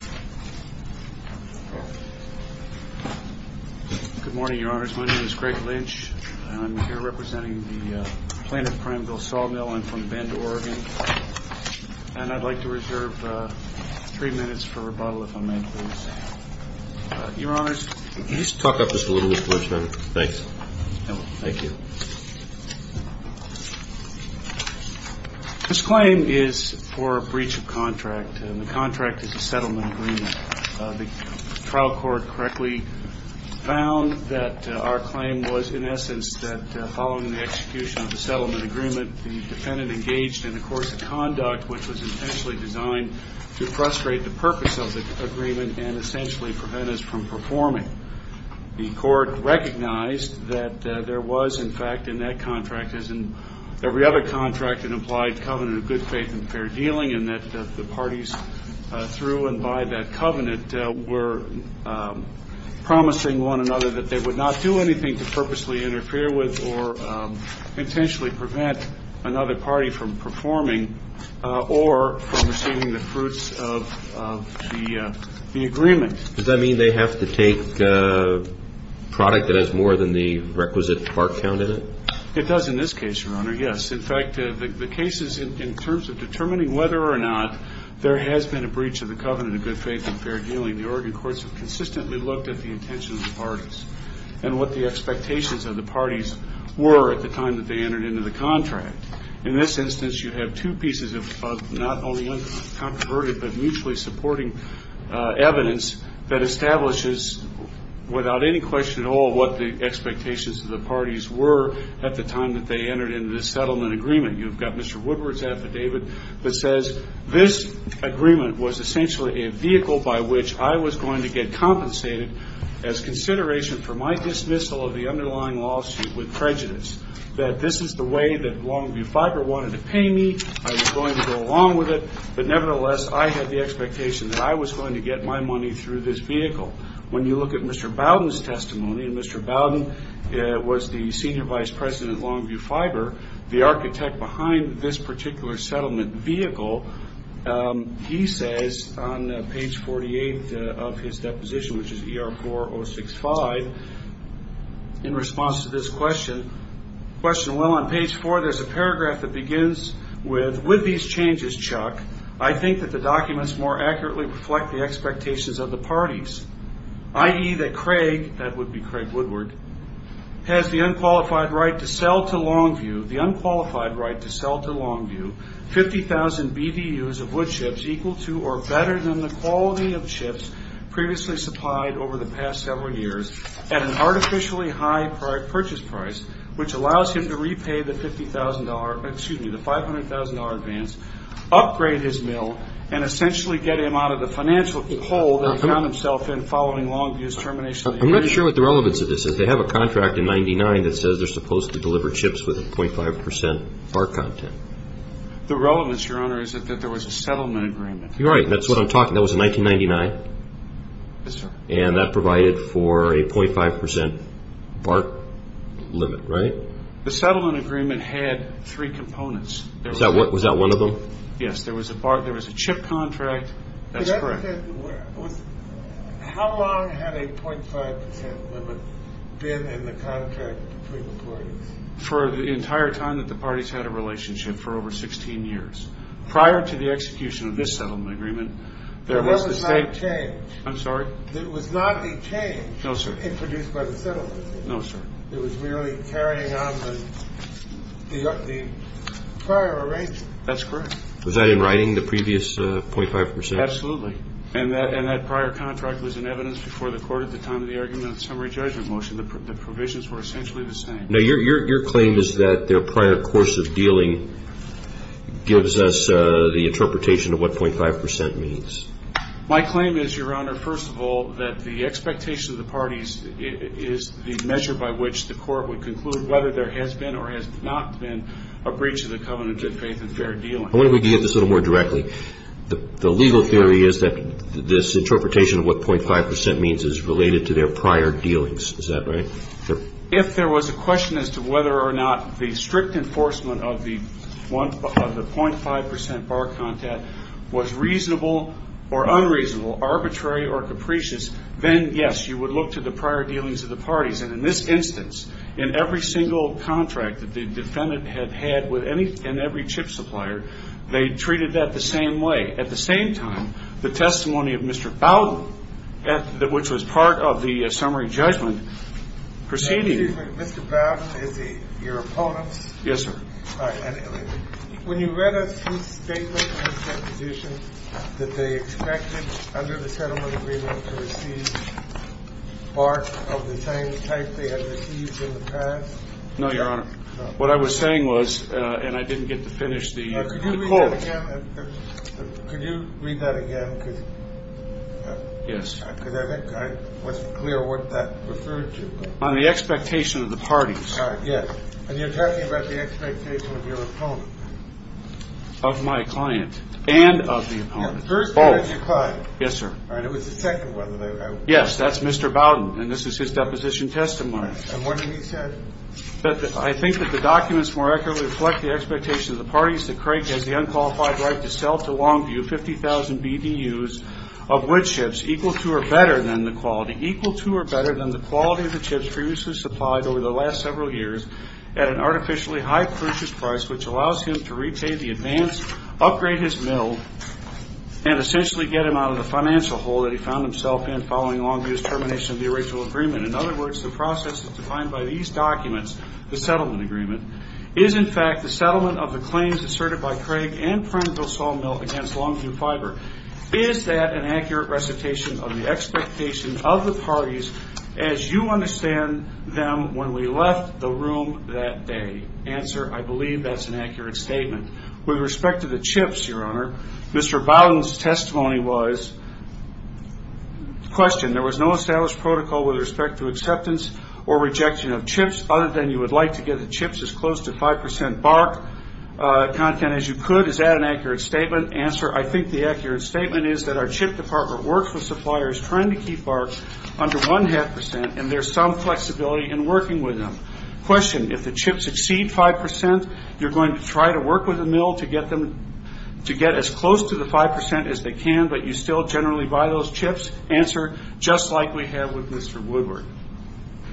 Good morning, Your Honors. My name is Greg Lynch, and I'm here representing the Plano Prineville Sawmill. I'm from Bend, Oregon, and I'd like to reserve three minutes for rebuttal, if I may, please. Your Honors. Can you just talk up just a little bit for a second? Thanks. Thank you. This claim is for a breach of contract, and the contract is a settlement agreement. The trial court correctly found that our claim was, in essence, that following the execution of the settlement agreement, the defendant engaged in a course of conduct which was intentionally designed to frustrate the purpose of the agreement and essentially prevent us from performing. The court recognized that there was, in fact, in that contract, as in every other contract, an implied covenant of good faith and fair dealing, and that the covenant were promising one another that they would not do anything to purposely interfere with or intentionally prevent another party from performing or from receiving the fruits of the agreement. Does that mean they have to take product that has more than the requisite part count in it? It does in this case, Your Honor, yes. In fact, the cases in terms of good faith and fair dealing, the Oregon courts have consistently looked at the intentions of the parties and what the expectations of the parties were at the time that they entered into the contract. In this instance, you have two pieces of not only uncontroverted but mutually supporting evidence that establishes without any question at all what the expectations of the parties were at the time that they entered into this settlement agreement. You've I was going to get compensated as consideration for my dismissal of the underlying lawsuit with prejudice, that this is the way that Longview Fiber wanted to pay me. I was going to go along with it. But nevertheless, I had the expectation that I was going to get my money through this vehicle. When you look at Mr. Bowden's testimony, and Mr. Bowden was the senior vice president at Longview Fiber, the architect behind this particular settlement vehicle, he says on page 48 of his deposition, which is ER4065, in response to this question, well, on page 4, there's a paragraph that begins with, with these changes, Chuck, I think that the documents more accurately reflect the expectations of the parties, i.e., that Craig, that would be Craig Woodward, has the unqualified right to sell to Longview, the unqualified right to sell to Longview, 50,000 BVUs of wood chips equal to or better than the quality of chips previously supplied over the past several years at an artificially high purchase price, which allows him to repay the $50,000, excuse me, the $500,000 advance, upgrade his mill, and essentially get him out of the financial hole that he found himself in following Longview's termination of the agreement. I'm not sure what the relevance of this is. They have a contract in 99 that says they're The relevance, Your Honor, is that there was a settlement agreement. You're right. That's what I'm talking about. That was in 1999. Yes, sir. And that provided for a .5% BART limit, right? The settlement agreement had three components. Was that one of them? Yes. There was a BART, there was a chip contract. That's correct. How long had a .5% limit been in the contract between the parties? For the entire time that the parties had a relationship, for over 16 years. Prior to the execution of this settlement agreement, there was the state There was not a change. I'm sorry? There was not a change introduced by the settlement agreement. No, sir. It was really carrying on the prior arrangement. That's correct. Was that in writing, the previous .5%? Absolutely. And that prior contract was in evidence before the court at the time of the argument of the summary judgment motion. The provisions were essentially the same. Now, your claim is that their prior course of dealing gives us the interpretation of what .5% means. My claim is, Your Honor, first of all, that the expectation of the parties is the measure by which the court would conclude whether there has been or has not been a breach of the covenant of faith and fair dealing. I wonder if we could get this a little more directly. The legal theory is that this interpretation of what .5% means is related to their prior dealings. Is that right? Sure. If there was a question as to whether or not the strict enforcement of the .5% bar content was reasonable or unreasonable, arbitrary or capricious, then, yes, you would look to the prior dealings of the parties. And in this instance, in every single contract that the defendant had had with any and every chip supplier, they treated that the same way. At the same time, the testimony of Mr. Bowden, which was part of the summary judgment, proceeding. Excuse me. Mr. Bowden is your opponent? Yes, sir. All right. When you read his statement and his proposition that they expected under the settlement agreement to receive part of the same type they had received in the past? No, Your Honor. What I was saying was, and I didn't get to finish the quote. Could you read that again? Could you read that again? Yes. Because I wasn't clear what that referred to. On the expectation of the parties. Yes. And you're talking about the expectation of your opponent. Of my client. And of the opponent. Yes, the first one is your client. Yes, sir. All right. It was the second one. Yes, that's Mr. Bowden. And this is his deposition testimony. And what did he say? I think that the documents more accurately reflect the expectation of the parties that Craig has the unqualified right to sell to Longview 50,000 BDUs of wood equal to or better than the quality, equal to or better than the quality of the chips previously supplied over the last several years at an artificially high purchase price, which allows him to retake the advance, upgrade his mill, and essentially get him out of the financial hole that he found himself in following Longview's termination of the original agreement. In other words, the process is defined by these documents, the settlement agreement, is in fact the settlement of the claims asserted by Craig and Prineville Saw Mill against Longview Fiber. Is that an accurate recitation of the expectation of the parties as you understand them when we left the room that day? Answer, I believe that's an accurate statement. With respect to the chips, Your Honor, Mr. Bowden's testimony was, question, there was no established protocol with respect to acceptance or rejection of chips other than you would like to get the chips as close to 5% bark content as you could. Is that an accurate statement? Answer, I think the accurate statement is that our chip department works with suppliers trying to keep barks under 1.5% and there's some flexibility in working with them. Question, if the chips exceed 5%, you're going to try to work with the mill to get them to get as close to the 5% as they can, but you still generally buy those chips? Answer, just like we have with Mr. Woodward.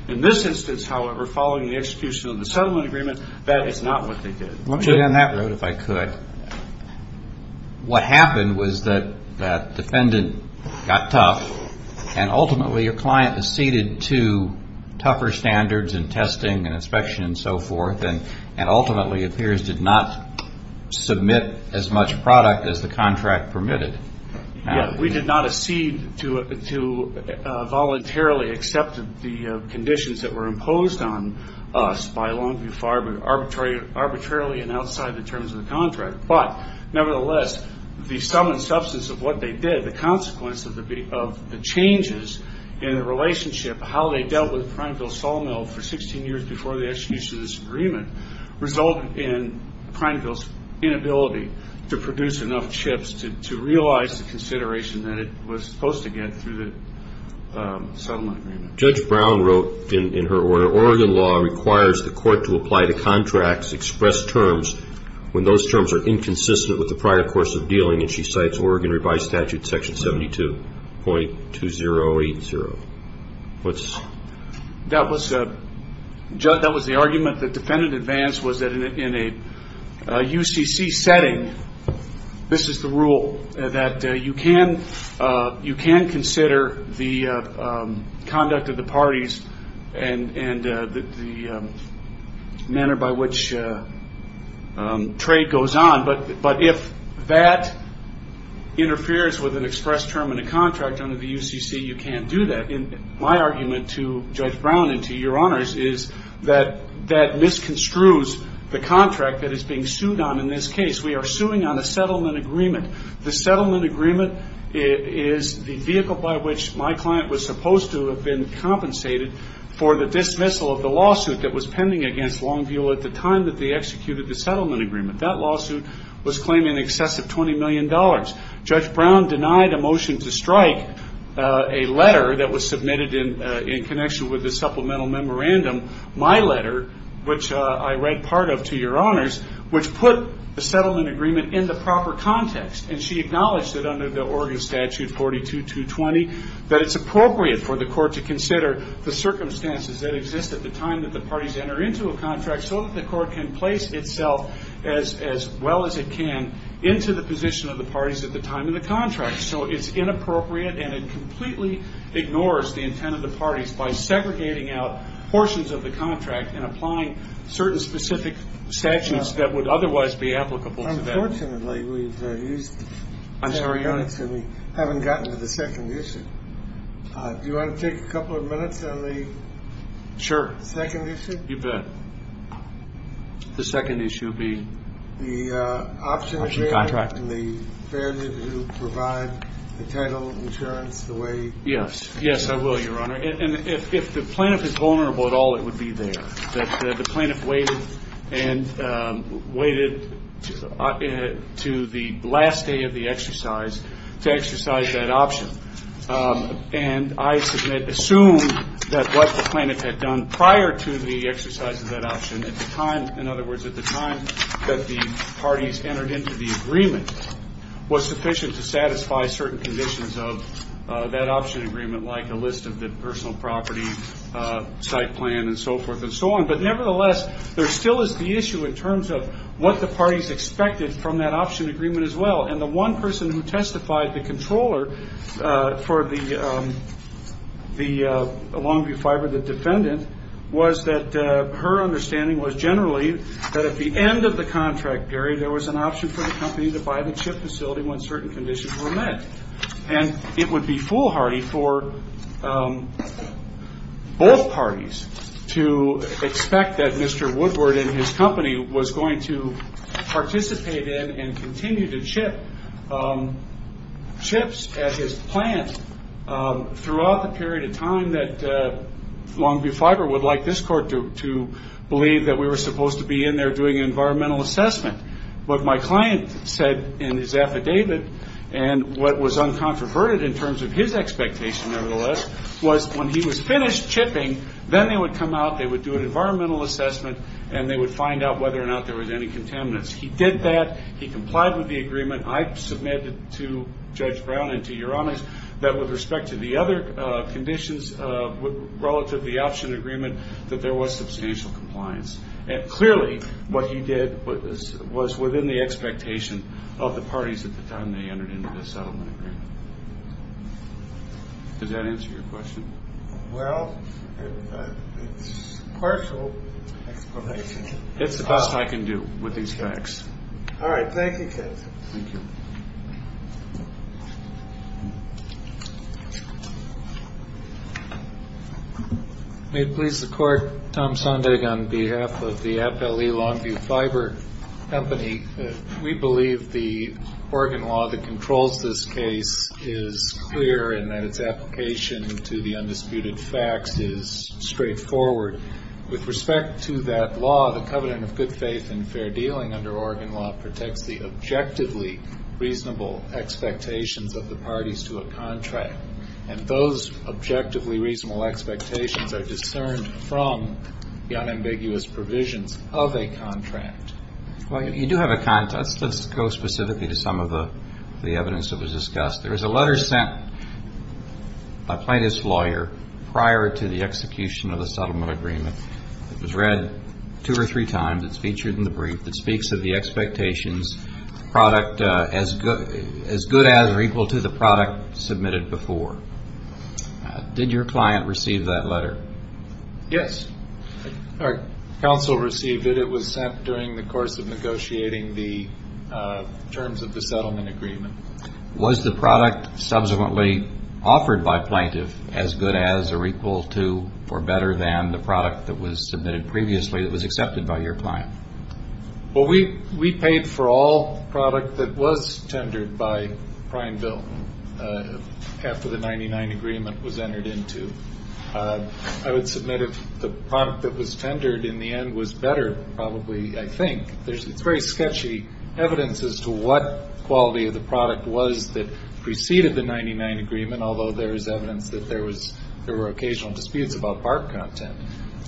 In this instance, however, following the execution of the settlement agreement, that is not what they did. Let me get on that road if I could. What happened was that defendant got tough and ultimately your client acceded to tougher standards and testing and inspection and so forth and ultimately it appears did not submit as much product as the contract permitted. We did not accede to voluntarily accept the conditions that were imposed on us by Longview Farm arbitrarily and outside the terms of the contract, but nevertheless, the sum and substance of what they did, the consequence of the changes in the relationship, how they dealt with Prineville Sawmill for 16 years before the execution of this agreement resulted in Prineville's inability to produce enough chips to realize the consideration that it was supposed to get through the settlement agreement. Judge Brown wrote in her order, Oregon law requires the court to apply the contracts, express terms when those terms are inconsistent with the prior course of dealing and she cites Oregon revised statute section 72.2080. That was the argument the defendant advanced was that in a UCC setting, this is the rule, that you can consider the conduct of the parties and the manner by which trade goes on, but if that interferes with an express term in a contract under the UCC, you can't do that. My argument to Judge Brown and to your honors is that that misconstrues the contract that is being sued on in this case. We are suing on a settlement agreement. The settlement agreement is the vehicle by which my client was supposed to have been compensated for the dismissal of the lawsuit that was pending against Longview at the time that they executed the settlement agreement. That lawsuit was claimed in excess of $20 million. Judge Brown denied a motion to strike a letter that was submitted in connection with the supplemental memorandum, my letter, which I read part of to your honor. She denied a motion to strike a settlement agreement in the proper context and she acknowledged that under the Oregon statute 42.220 that it's appropriate for the court to consider the circumstances that exist at the time that the parties enter into a contract so that the court can place itself as well as it can into the position of the parties at the time of the contract. So it's inappropriate and it completely ignores the intent of the parties by Unfortunately, we've used 10 minutes and we haven't gotten to the second issue. Do you want to take a couple of minutes on the second issue? Sure. You bet. The second issue would be? The option of bail and the fairness to provide the title, insurance, the way. Yes. Yes, I will, your honor. And if the plaintiff is vulnerable at all, it would be there. The plaintiff waited and waited to the last day of the exercise to exercise that option. And I assume that what the plaintiff had done prior to the exercise of that option, at the time, in other words, at the time that the parties entered into the agreement, was sufficient to satisfy certain conditions of that option agreement like a list of property site plan and so forth and so on. But nevertheless, there still is the issue in terms of what the parties expected from that option agreement as well. And the one person who testified, the controller for the Longview Fiber, the defendant, was that her understanding was generally that at the end of the contract period, there was an option for the company to buy the chip facility when certain conditions were met. And it would be foolhardy for both parties to expect that Mr. Woodward and his company was going to participate in and continue to chip chips at his plant throughout the period of time that Longview Fiber would like this court to believe that we were supposed to be in there doing an environmental assessment. But my client said in his affidavit, and what was uncontroverted in terms of his expectation nevertheless, was when he was finished chipping, then they would come out, they would do an environmental assessment, and they would find out whether or not there was any contaminants. He did that. He complied with the agreement. I submitted to Judge Brown and to Uranus that with respect to the other conditions relative to the option agreement, that there was substantial compliance. And clearly what he did was within the expectation of the parties at the time they entered into the settlement agreement. Does that answer your question? Well, it's a partial explanation. It's the best I can do with these facts. All right. Thank you, Judge. Thank you. May it please the Court. Tom Sondag on behalf of the Appellee Longview Fiber Company. We believe the Oregon law that controls this case is clear and that its application to the undisputed facts is straightforward. With respect to that law, the covenant of good faith and fair dealing under Oregon law protects the objectively reasonable expectations of the parties to a contract. And those objectively reasonable expectations are discerned from the unambiguous provisions of a contract. Well, you do have a contract. Let's go specifically to some of the evidence that was discussed. There was a letter sent by a plaintiff's lawyer prior to the execution of the settlement agreement. It was read two or three times. It's featured in the brief. It speaks of the expectations product as good as or equal to the product submitted before. Did your client receive that letter? Yes. Our counsel received it. It was sent during the course of negotiating the terms of the settlement agreement. Was the product subsequently offered by plaintiff as good as or equal to or better than the product that was submitted previously that was accepted by your client? Well, we paid for all product that was tendered by prime bill after the 99 agreement was entered into. I would submit if the product that was tendered in the end was better probably, I think. It's very sketchy evidence as to what quality of the product was that preceded the 99 agreement, although there is evidence that there were occasional disputes about part content.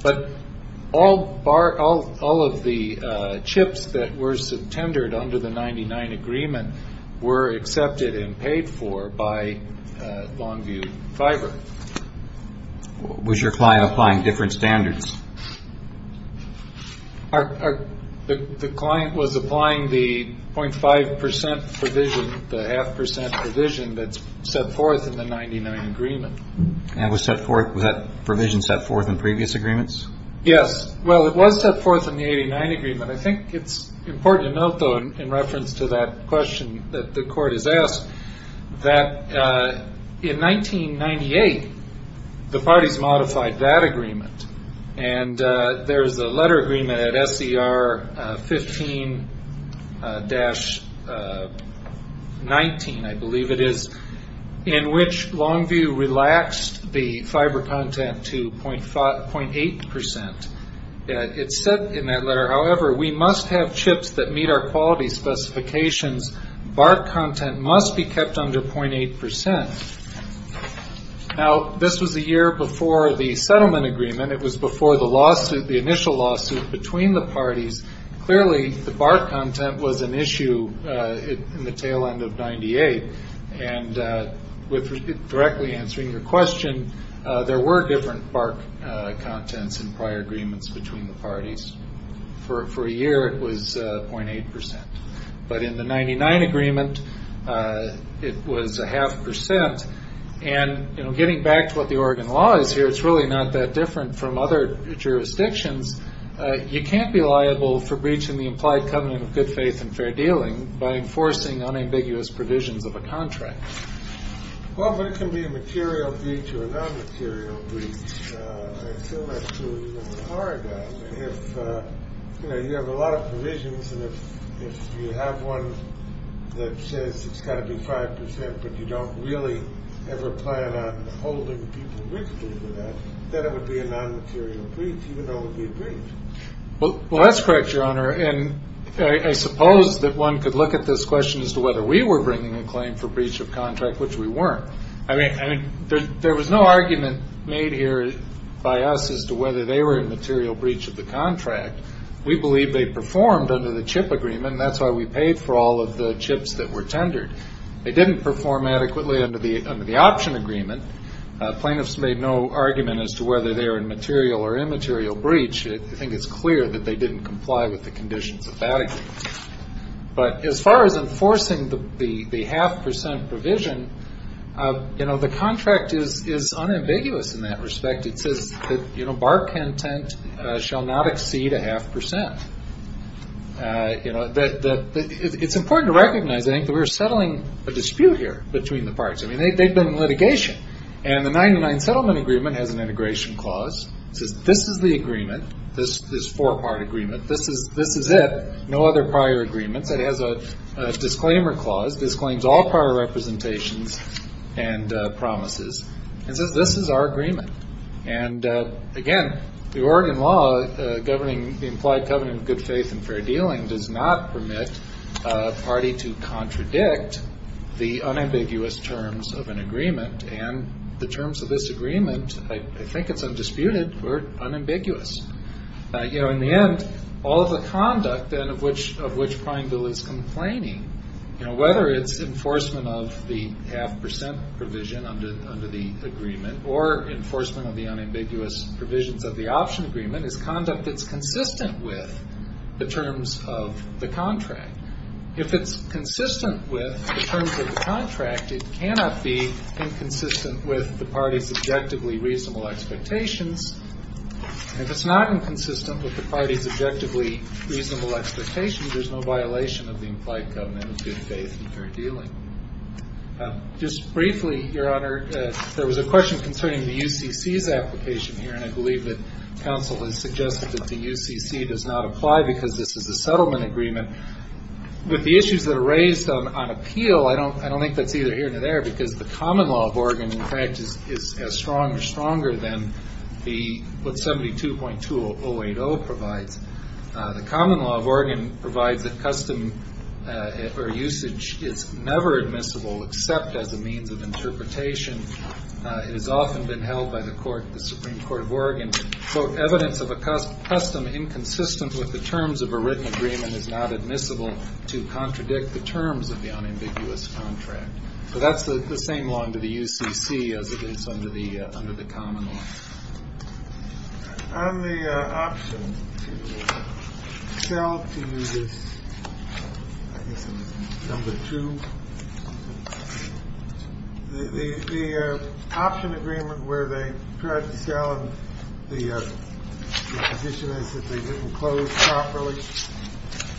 But all of the chips that were tendered under the 99 agreement were accepted and paid for by Longview Fiber. Was your client applying different standards? The client was applying the 0.5 percent provision, the half percent provision that's set forth in the 99 agreement. Was that provision set forth in previous agreements? Yes. Well, it was set forth in the 89 agreement. I think it's important to note, though, in reference to that question that the court has asked, that in 1998, the parties modified that agreement. And there's a letter agreement at SER 15-19, I believe it is, in which Longview relaxed the fiber content to 0.8 percent. It's set in that letter. However, we must have chips that meet our quality specifications. Bark content must be kept under 0.8 percent. Now, this was a year before the settlement agreement. It was before the initial lawsuit between the parties. Clearly, the bark content was an issue in the tail end of 98. And with directly answering your question, there were different bark contents in prior agreements between the parties. For a year, it was 0.8 percent. But in the 99 agreement, it was a half percent. And, you know, getting back to what the Oregon law is here, it's really not that different from other jurisdictions. You can't be liable for breach in the implied covenant of good faith and fair dealing by enforcing unambiguous provisions of a contract. Well, but it can be a material breach or a non-material breach. So you have a lot of provisions. And if you have one that says it's got to be 5 percent, but you don't really ever plan on holding people with that, then it would be a non-material breach, even though it would be a breach. Well, that's correct, Your Honor. And I suppose that one could look at this question as to whether we were bringing a claim for breach of contract, which we weren't. I mean, there was no argument made here by us as to whether they were in material breach of the contract. We believe they performed under the chip agreement, and that's why we paid for all of the chips that were tendered. They didn't perform adequately under the option agreement. Plaintiffs made no argument as to whether they were in material or immaterial breach. I think it's clear that they didn't comply with the conditions of that agreement. But as far as enforcing the half percent provision, you know, the contract is unambiguous in that respect. It says that, you know, bar content shall not exceed a half percent. You know, it's important to recognize, I think, that we're settling a dispute here between the parts. I mean, they've been in litigation. And the 99 settlement agreement has an integration clause. It says this is the agreement. This is four-part agreement. This is it. No other prior agreements. It has a disclaimer clause, disclaims all prior representations and promises. It says this is our agreement. And, again, the Oregon law governing the implied covenant of good faith and fair dealing does not permit a party to contradict the unambiguous terms of an agreement. And the terms of this agreement, I think it's undisputed, were unambiguous. You know, in the end, all of the conduct then of which Prime Bill is complaining, you know, whether it's enforcement of the half percent provision under the agreement or enforcement of the unambiguous provisions of the option agreement is conduct that's consistent with the terms of the contract. If it's consistent with the terms of the contract, it cannot be inconsistent with the party's objectively reasonable expectations. If it's not inconsistent with the party's objectively reasonable expectations, there's no violation of the implied covenant of good faith and fair dealing. Just briefly, Your Honor, there was a question concerning the UCC's application here, and I believe that counsel has suggested that the UCC does not apply because this is a settlement agreement. With the issues that are raised on appeal, I don't think that's either here or there because the common law of Oregon, in fact, is as strong or stronger than what 72.2080 provides. The common law of Oregon provides that custom or usage is never admissible except as a means of interpretation. It has often been held by the Supreme Court of Oregon, quote, evidence of a custom inconsistent with the terms of a written agreement is not admissible to contradict the terms of the unambiguous contract. So that's the same law under the UCC as it is under the common law. On the option to sell to users, number two, the option agreement where they tried to sell and the condition is that they didn't close properly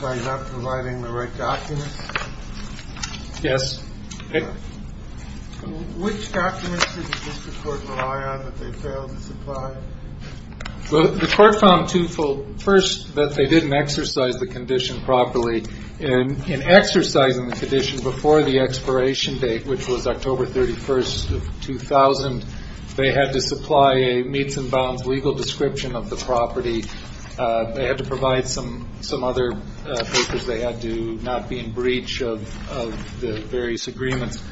by not providing the right documents? Yes. Which documents did the district court rely on that they failed to supply? Well, the court found twofold. First, that they didn't exercise the condition properly. In exercising the condition before the expiration date, which was October 31st of 2000, they had to supply a meets and bounds legal description of the property. They had to provide some other papers. They had to not be in breach of the various agreements.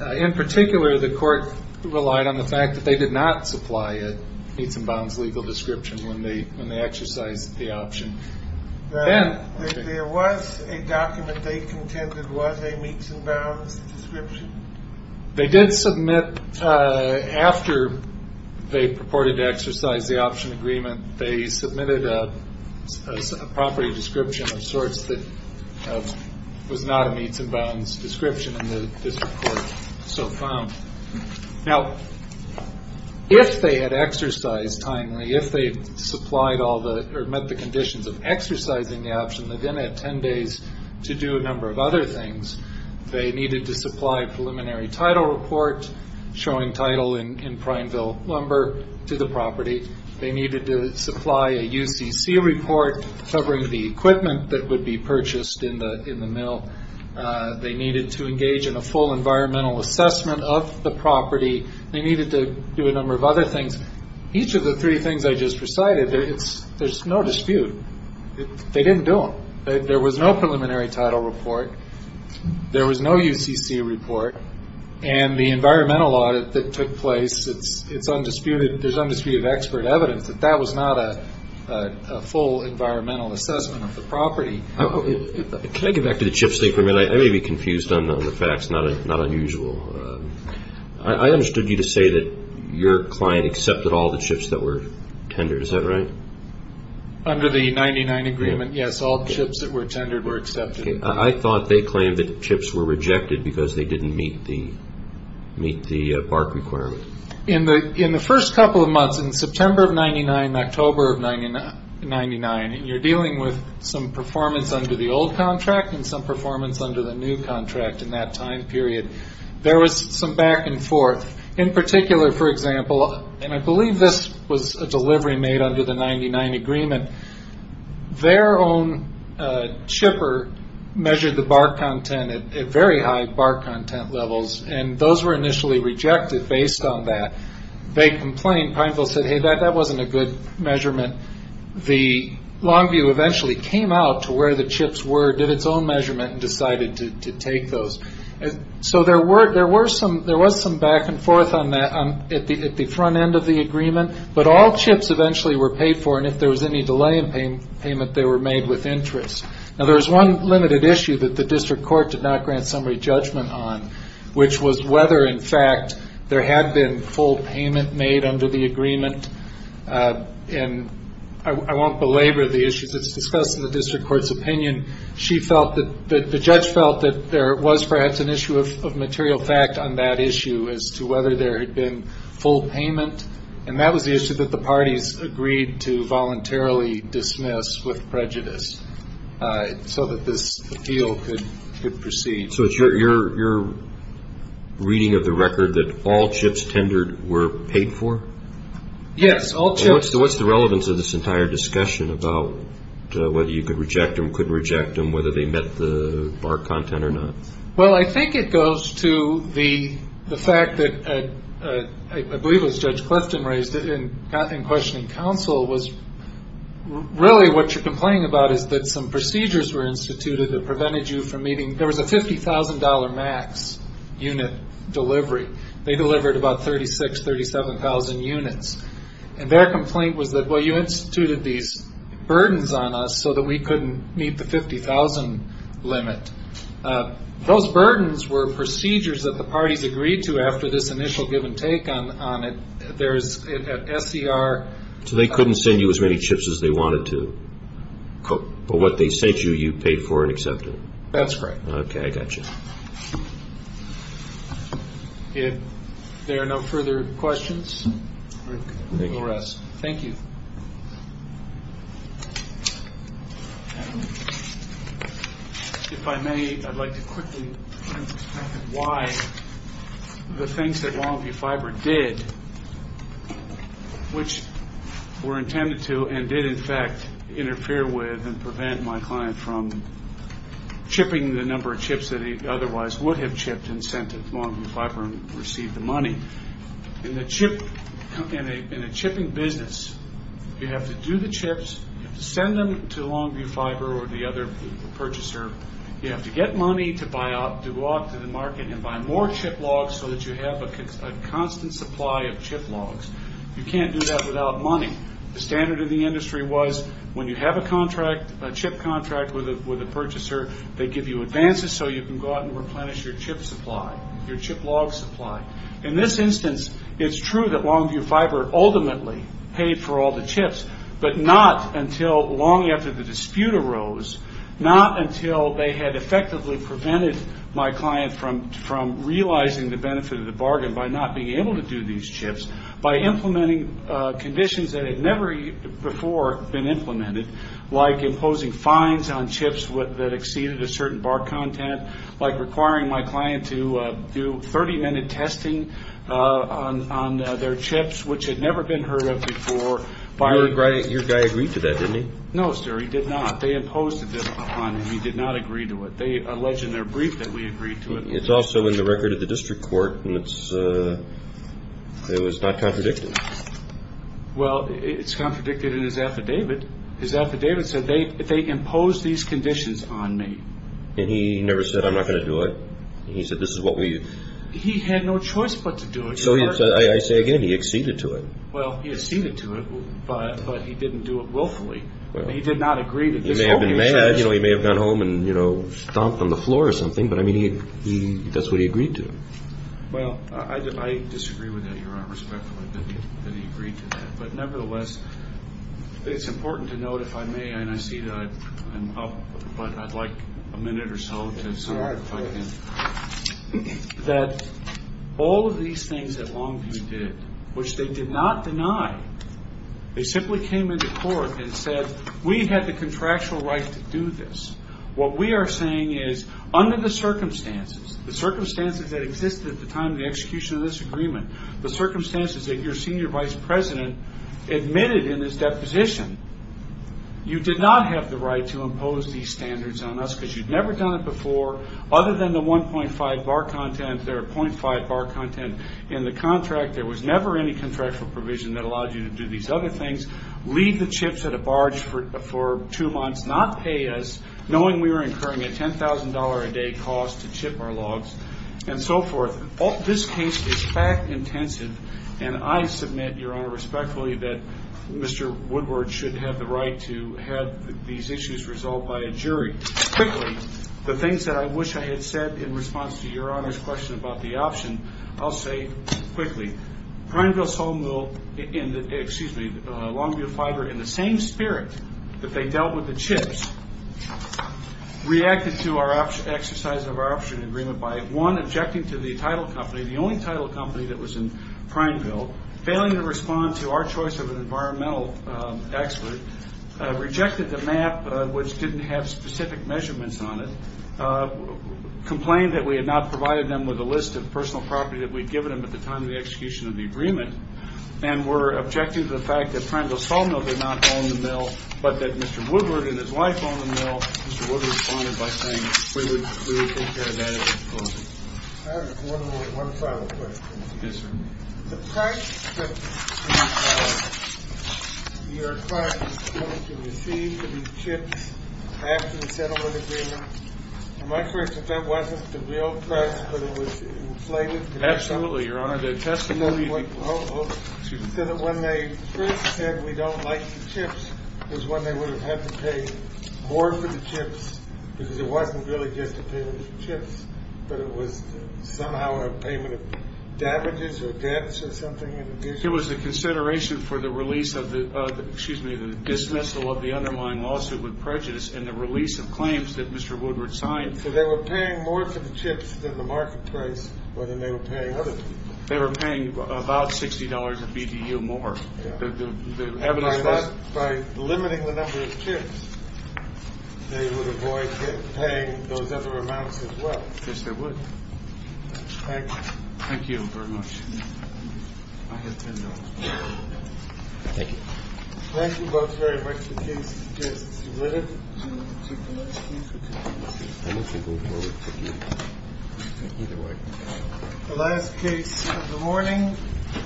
In particular, the court relied on the fact that they did not supply a meets and bounds legal description when they exercised the option. There was a document they contended was a meets and bounds description? They did submit after they purported to exercise the option agreement. They submitted a property description of sorts that was not a meets and bounds description, and the district court so found. Now, if they had exercised timely, if they supplied all the or met the conditions of exercising the option, they then had 10 days to do a number of other things. They needed to supply a preliminary title report showing title in Primeville lumber to the property. They needed to supply a UCC report covering the equipment that would be purchased in the mill. They needed to engage in a full environmental assessment of the property. They needed to do a number of other things. Each of the three things I just recited, there's no dispute. They didn't do them. There was no preliminary title report. There was no UCC report. And the environmental audit that took place, there's undisputed expert evidence that that was not a full environmental assessment of the property. Can I get back to the chips they permitted? I may be confused on the facts, not unusual. I understood you to say that your client accepted all the chips that were tendered. Is that right? Under the 99 agreement, yes, all chips that were tendered were accepted. I thought they claimed that chips were rejected because they didn't meet the BARC requirement. In the first couple of months, in September of 1999 and October of 1999, you're dealing with some performance under the old contract and some performance under the new contract in that time period. There was some back and forth. In particular, for example, and I believe this was a delivery made under the 99 agreement, their own chipper measured the BARC content at very high BARC content levels, and those were initially rejected based on that. They complained. Pineville said, hey, that wasn't a good measurement. The Longview eventually came out to where the chips were, did its own measurement, and decided to take those. So there was some back and forth on that at the front end of the agreement, but all chips eventually were paid for, and if there was any delay in payment, they were made with interest. Now, there was one limited issue that the district court did not grant summary judgment on, which was whether, in fact, there had been full payment made under the agreement. And I won't belabor the issues. It's discussed in the district court's opinion. She felt that the judge felt that there was perhaps an issue of material fact on that issue as to whether there had been full payment. And that was the issue that the parties agreed to voluntarily dismiss with prejudice so that this appeal could proceed. So it's your reading of the record that all chips tendered were paid for? Yes, all chips. What's the relevance of this entire discussion about whether you could reject them, couldn't reject them, whether they met the BARC content or not? Well, I think it goes to the fact that, I believe it was Judge Clifton raised it in questioning counsel, was really what you're complaining about is that some procedures were instituted that prevented you from meeting. There was a $50,000 max unit delivery. They delivered about 36,000, 37,000 units. And their complaint was that, well, you instituted these burdens on us so that we couldn't meet the 50,000 limit. Those burdens were procedures that the parties agreed to after this initial give and take on it. There's an SCR. So they couldn't send you as many chips as they wanted to. But what they sent you, you paid for and accepted. That's correct. Okay, I got you. If there are no further questions, we'll rest. Thank you. If I may, I'd like to quickly explain why the things that Longview Fiber did, which were intended to and did, in fact, interfere with and prevent my client from chipping the number of chips that he otherwise would have chipped and sent to Longview Fiber and received the money. In a chipping business, you have to do the chips. You have to send them to Longview Fiber or the other purchaser. You have to get money to go out to the market and buy more chip logs so that you have a constant supply of chip logs. You can't do that without money. The standard of the industry was when you have a chip contract with a purchaser, they give you advances so you can go out and replenish your chip supply, your chip log supply. In this instance, it's true that Longview Fiber ultimately paid for all the chips, but not until long after the dispute arose, not until they had effectively prevented my client from realizing the benefit of the bargain by not being able to do these chips, by implementing conditions that had never before been implemented, like imposing fines on chips that exceeded a certain bar content, like requiring my client to do 30-minute testing on their chips, which had never been heard of before. Your guy agreed to that, didn't he? No, sir, he did not. They imposed a discipline on him. He did not agree to it. They allege in their brief that we agreed to it. It's also in the record of the district court, and it was not contradicted. Well, it's contradicted in his affidavit. His affidavit said, they imposed these conditions on me. And he never said, I'm not going to do it. He said, this is what we... He had no choice but to do it. I say again, he acceded to it. Well, he acceded to it, but he didn't do it willfully. He did not agree to this. He may have been mad. He may have gone home and stomped on the floor or something, but that's what he agreed to. Well, I disagree with that, Your Honor, respectfully, that he agreed to that. But nevertheless, it's important to note, if I may, and I see that I'm up, but I'd like a minute or so to sum it up. That all of these things that Longview did, which they did not deny, they simply came into court and said, we had the contractual right to do this. What we are saying is, under the circumstances, the circumstances that existed at the time of the execution of this agreement, the circumstances that your senior vice president admitted in his deposition, you did not have the right to impose these standards on us because you'd never done it before. Other than the 1.5 bar content, there are .5 bar content in the contract. There was never any contractual provision that allowed you to do these other things, leave the chips at a barge for two months, not pay us, knowing we were incurring a $10,000 a day cost to chip our logs, and so forth. This case is fact-intensive, and I submit, Your Honor, respectfully, that Mr. Woodward should have the right to have these issues resolved by a jury. Quickly, the things that I wish I had said in response to Your Honor's question about the option, I'll say quickly. Longview Fiber, in the same spirit that they dealt with the chips, reacted to our exercise of our option agreement by, one, objecting to the title company, the only title company that was in Prineville, failing to respond to our choice of an environmental expert, rejected the map, which didn't have specific measurements on it, complained that we had not provided them with a list of personal property that we'd given them at the time of the execution of the agreement, and were objecting to the fact that Prineville Sawmill did not own the mill, but that Mr. Woodward and his wife owned the mill. Mr. Woodward responded by saying we would take care of that at a later time. I have one final question. Yes, sir. The price that we are trying to receive for these chips after the settlement agreement, am I correct that that wasn't the real price, but it was inflated? Absolutely, Your Honor. So that when they first said we don't like the chips, was when they would have had to pay more for the chips, because it wasn't really just a payment of chips, but it was somehow a payment of damages or debts or something? It was the consideration for the release of the, excuse me, the dismissal of the underlying lawsuit with prejudice and the release of claims that Mr. Woodward signed. So they were paying more for the chips than the market price, rather than they were paying other people. They were paying about $60 a BTU more. By limiting the number of chips, they would avoid paying those other amounts as well. Yes, they would. Thank you. Thank you very much. I have $10. Thank you. Thank you both very much. The case is submitted. Thank you. Thank you. Thank you. Thank you. The last case of the morning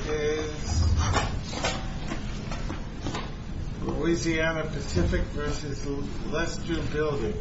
is Louisiana Pacific v. Leicester Building.